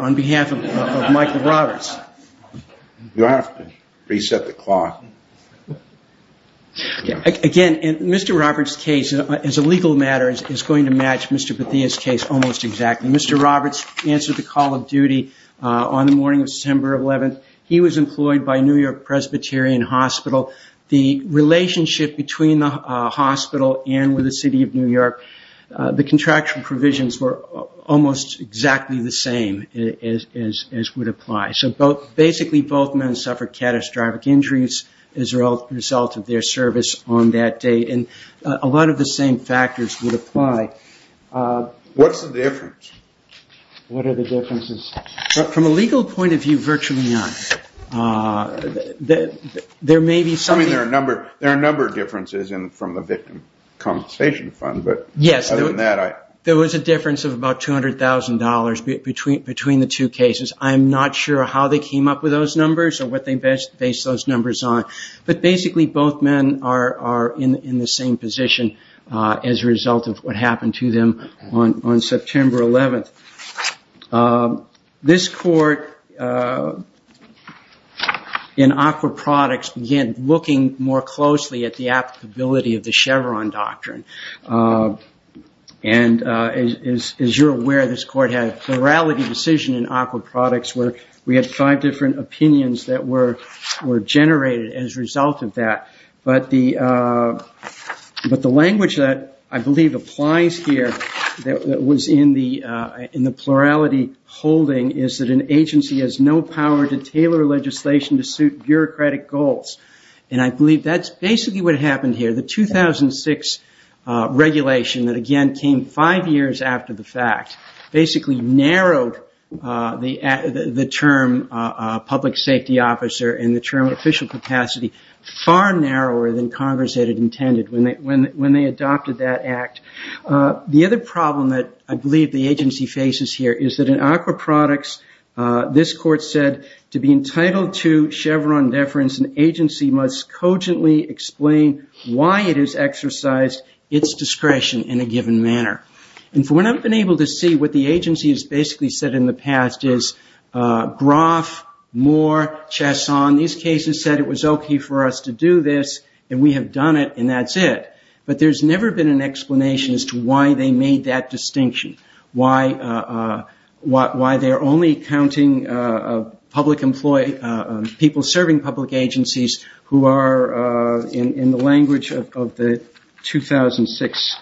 on behalf of Michael Roberts. You have to reset the clock. Again, Mr. Roberts' case, as a legal matter, is going to match Mr. Bathia's case almost exactly. Mr. Roberts answered the call of duty on the morning of September 11th. He was employed by New York Presbyterian Hospital. The relationship between the hospital and the city of New York, the contractual provisions were almost exactly the same as would apply. Basically, both men suffered catastrophic injuries as a result of their service on that date. A lot of the same factors would apply. What's the difference? What are the differences? From a legal point of view, virtually none. There are a number of differences from the victim compensation fund. There was a difference of about $200,000 between the two cases. I'm not sure how they came up with those numbers or what they based those numbers on. Basically, both men are in the same position as a result of what happened to them on September 11th. This court in Aqua Products began looking more closely at the applicability of the Chevron Doctrine. As you're aware, this court had a plurality decision in Aqua Products where we had five different opinions that were generated as a result of that. The language that I believe applies here that was in the plurality holding is that an agency has no power to tailor legislation to suit bureaucratic goals. I believe that's basically what happened here. The 2006 regulation that again came five years after the fact basically narrowed the term public safety officer and the term official capacity far narrower than Congress had intended when they adopted that act. The other problem that I believe the agency faces here is that in Aqua Products, this court said, to be entitled to Chevron deference, an agency must cogently explain why it has exercised its discretion in a given manner. From what I've been able to see, what the agency has basically said in the past is, Groff, Moore, Chasson, these cases said it was okay for us to do this and we have done it and that's it. There's never been an explanation as to why they made that distinction, why they're only counting people serving public agencies who are, in the language of the 2006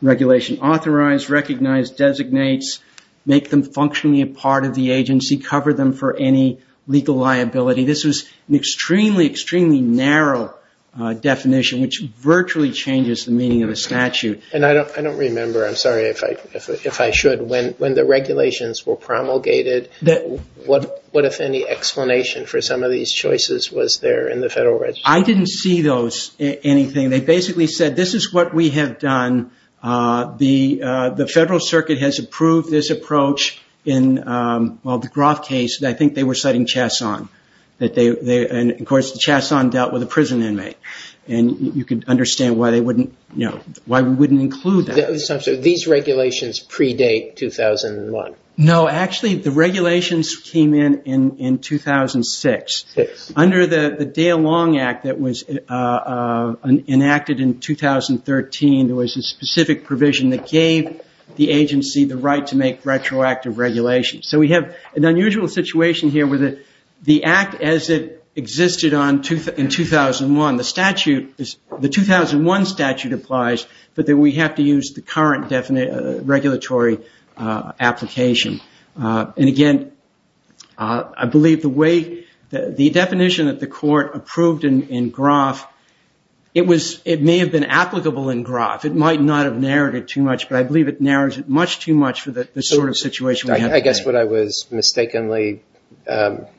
regulation, authorized, recognized, designates, make them functionally a part of the agency, cover them for any legal liability. This was an extremely, extremely narrow definition which virtually changes the meaning of a statute. I don't remember, I'm sorry if I should, when the regulations were promulgated, what if any explanation for some of these choices was there in the federal register? I didn't see anything. They basically said, this is what we have done. The federal circuit has approved this approach. In the Groff case, I think they were citing Chasson. Of course, Chasson dealt with a prison inmate. You could understand why we wouldn't include that. These regulations predate 2001. Actually, the regulations came in 2006. Under the Dale Long Act that was enacted in 2013, there was a specific provision that gave the agency the right to make retroactive regulations. We have an unusual situation here where the act as it existed in 2001, the 2001 statute applies, but we have to use the current regulatory application. Again, I believe the definition that the court approved in Groff, it may have been applicable in Groff. It might not have narrowed it too much, but I believe it narrowed it much too much for the sort of situation we have today. I guess what I was mistakenly conflating,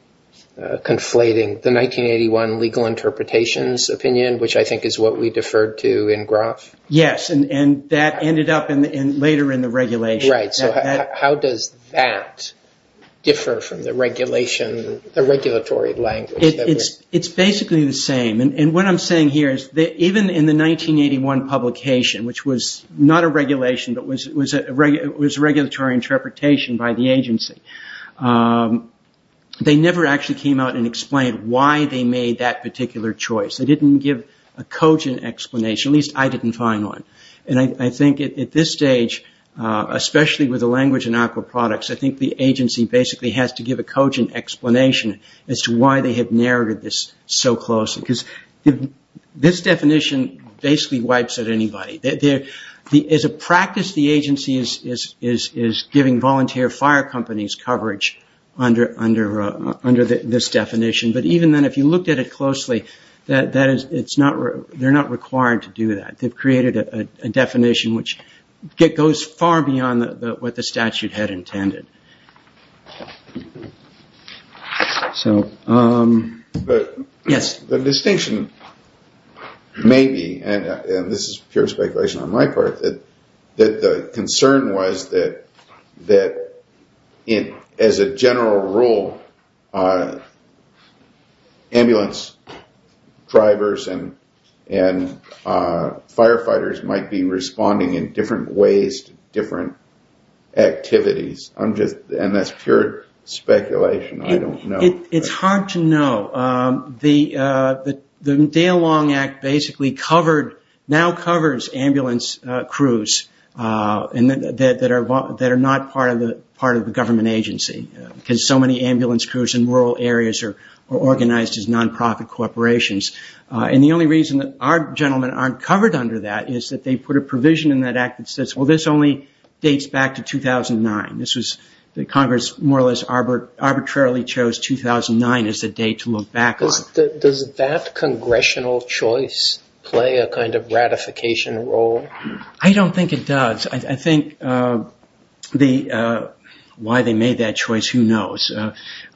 the 1981 legal interpretations opinion, which I think is what we deferred to in Groff. Yes, and that ended up later in the regulation. How does that differ from the regulatory language? It's basically the same. What I'm saying here is that even in the 1981 publication, which was not a regulation, but was a regulatory interpretation by the agency, they never actually came out and explained why they made that particular choice. They didn't give a cogent explanation, at least I didn't find one. I think at this stage, especially with the language in aquaproducts, I think the agency basically has to give a cogent explanation as to why they have narrowed this so closely. This definition basically wipes out anybody. As a practice, the agency is giving volunteer fire companies coverage under this definition. Even then, if you looked at it closely, they're not required to do that. They've created a definition which goes far beyond what the statute had intended. The distinction may be, and this is pure speculation on my part, that the concern was that as a general rule, ambulance drivers and firefighters might be responding in different ways to different activities. That's pure speculation. I don't know. It's hard to know. The Dale Long Act basically now covers ambulance crews that are not part of the government agency, because so many ambulance crews in rural areas are organized as non-profit corporations. The only reason that our gentlemen aren't covered under that is that they put a provision in that act that says, well, this only dates back to 2009. Congress more or less arbitrarily chose 2009 as the date to look back on. Does that congressional choice play a kind of ratification role? I don't think it does. I think why they made that choice, who knows.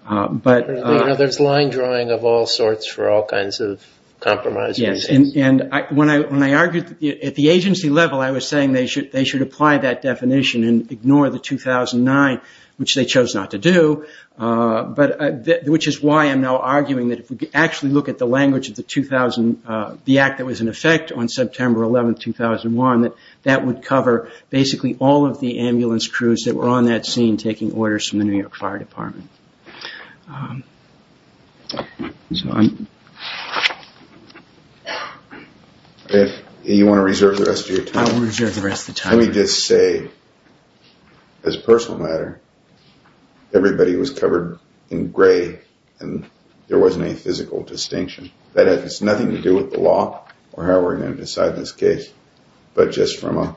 There's line drawing of all sorts for all kinds of compromises. When I argued at the agency level, I was saying they should apply that definition and ignore the 2009, which they chose not to do. Which is why I'm now arguing that if we actually look at the language of the 2000, the act that was in effect on September 11, 2001, that that would cover basically all of the ambulance crews that were on that scene taking orders from the New York Fire Department. If you want to reserve the rest of your time, let me just say, as a personal matter, everybody was covered in gray and there wasn't any physical distinction. That has nothing to do with the law or how we're going to decide this case, but just from a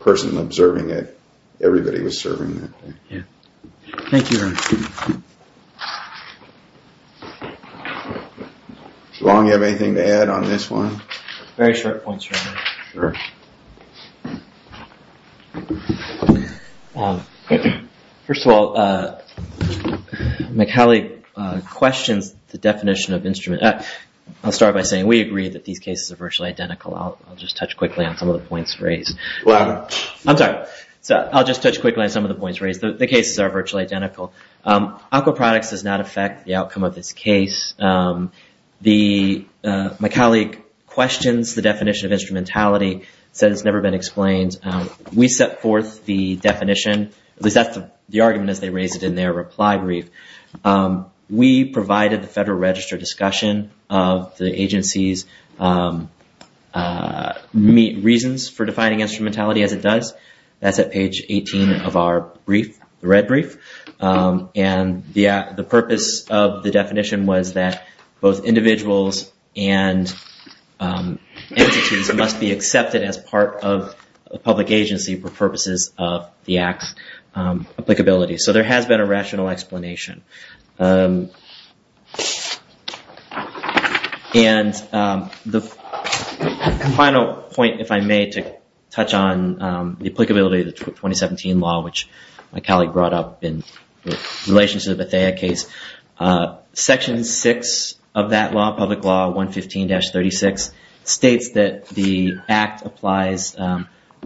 person observing it, everybody was serving that day. Thank you, Ron. Ron, do you have anything to add on this one? Very short points, Ron. Sure. First of all, McAuley questions the definition of instrument. I'll start by saying we agree that these cases are virtually identical. I'll just touch quickly on some of the points raised. Louder. I'm sorry. I'll just touch quickly on some of the points raised. The cases are virtually identical. Aquaproducts does not affect the outcome of this case. My colleague questions the definition of instrumentality, says it's never been explained. We set forth the definition, at least that's the argument as they raised it in their reply brief. We provided the Federal Register discussion of the agency's reasons for defining instrumentality as it does. That's at page 18 of our brief, the red brief. The purpose of the definition was that both individuals and entities must be accepted as part of a public agency for purposes of the Act's applicability. So there has been a rational explanation. And the final point, if I may, to touch on the applicability of the 2017 law, which my colleague brought up in relation to the Bethea case. Section 6 of that law, Public Law 115-36, states that the Act applies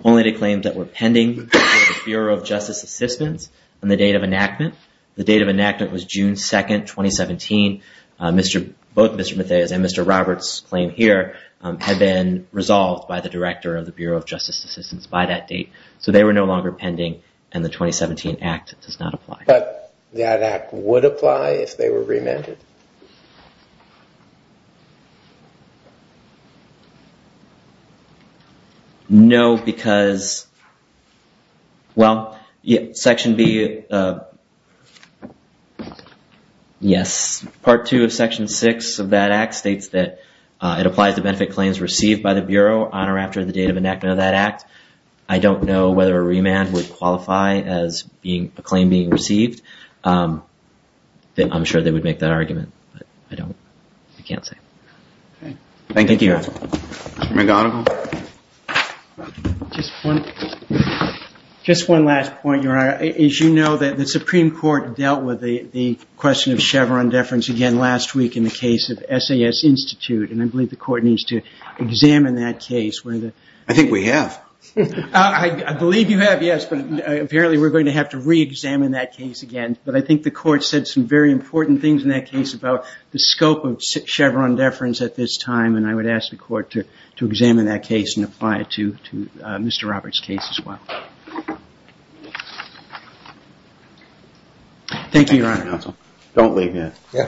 only to claims that were pending with the Bureau of Justice Assistance on the date of enactment. The date of enactment was June 2, 2017. Both Mr. Bethea's and Mr. Roberts' claim here have been resolved by the Director of the Bureau of Justice Assistance by that date. So they were no longer pending, and the 2017 Act does not apply. But that Act would apply if they were remanded? No, because, well, Section B, yes. Part 2 of Section 6 of that Act states that it applies to benefit claims received by the Bureau on or after the date of enactment of that Act. I don't know whether a remand would qualify as a claim being received. I'm sure they would make that argument, but I can't say. Mr. McGonigal? Just one last point, Your Honor. As you know, the Supreme Court dealt with the question of Chevron deference again last week in the case of SAS Institute, and I believe the Court needs to examine that case. I think we have. I believe you have, yes, but apparently we're going to have to re-examine that case again. But I think the Court said some very important things in that case about the scope of Chevron deference at this time, and I would ask the Court to examine that case and apply it to Mr. Roberts' case as well. Thank you, Your Honor.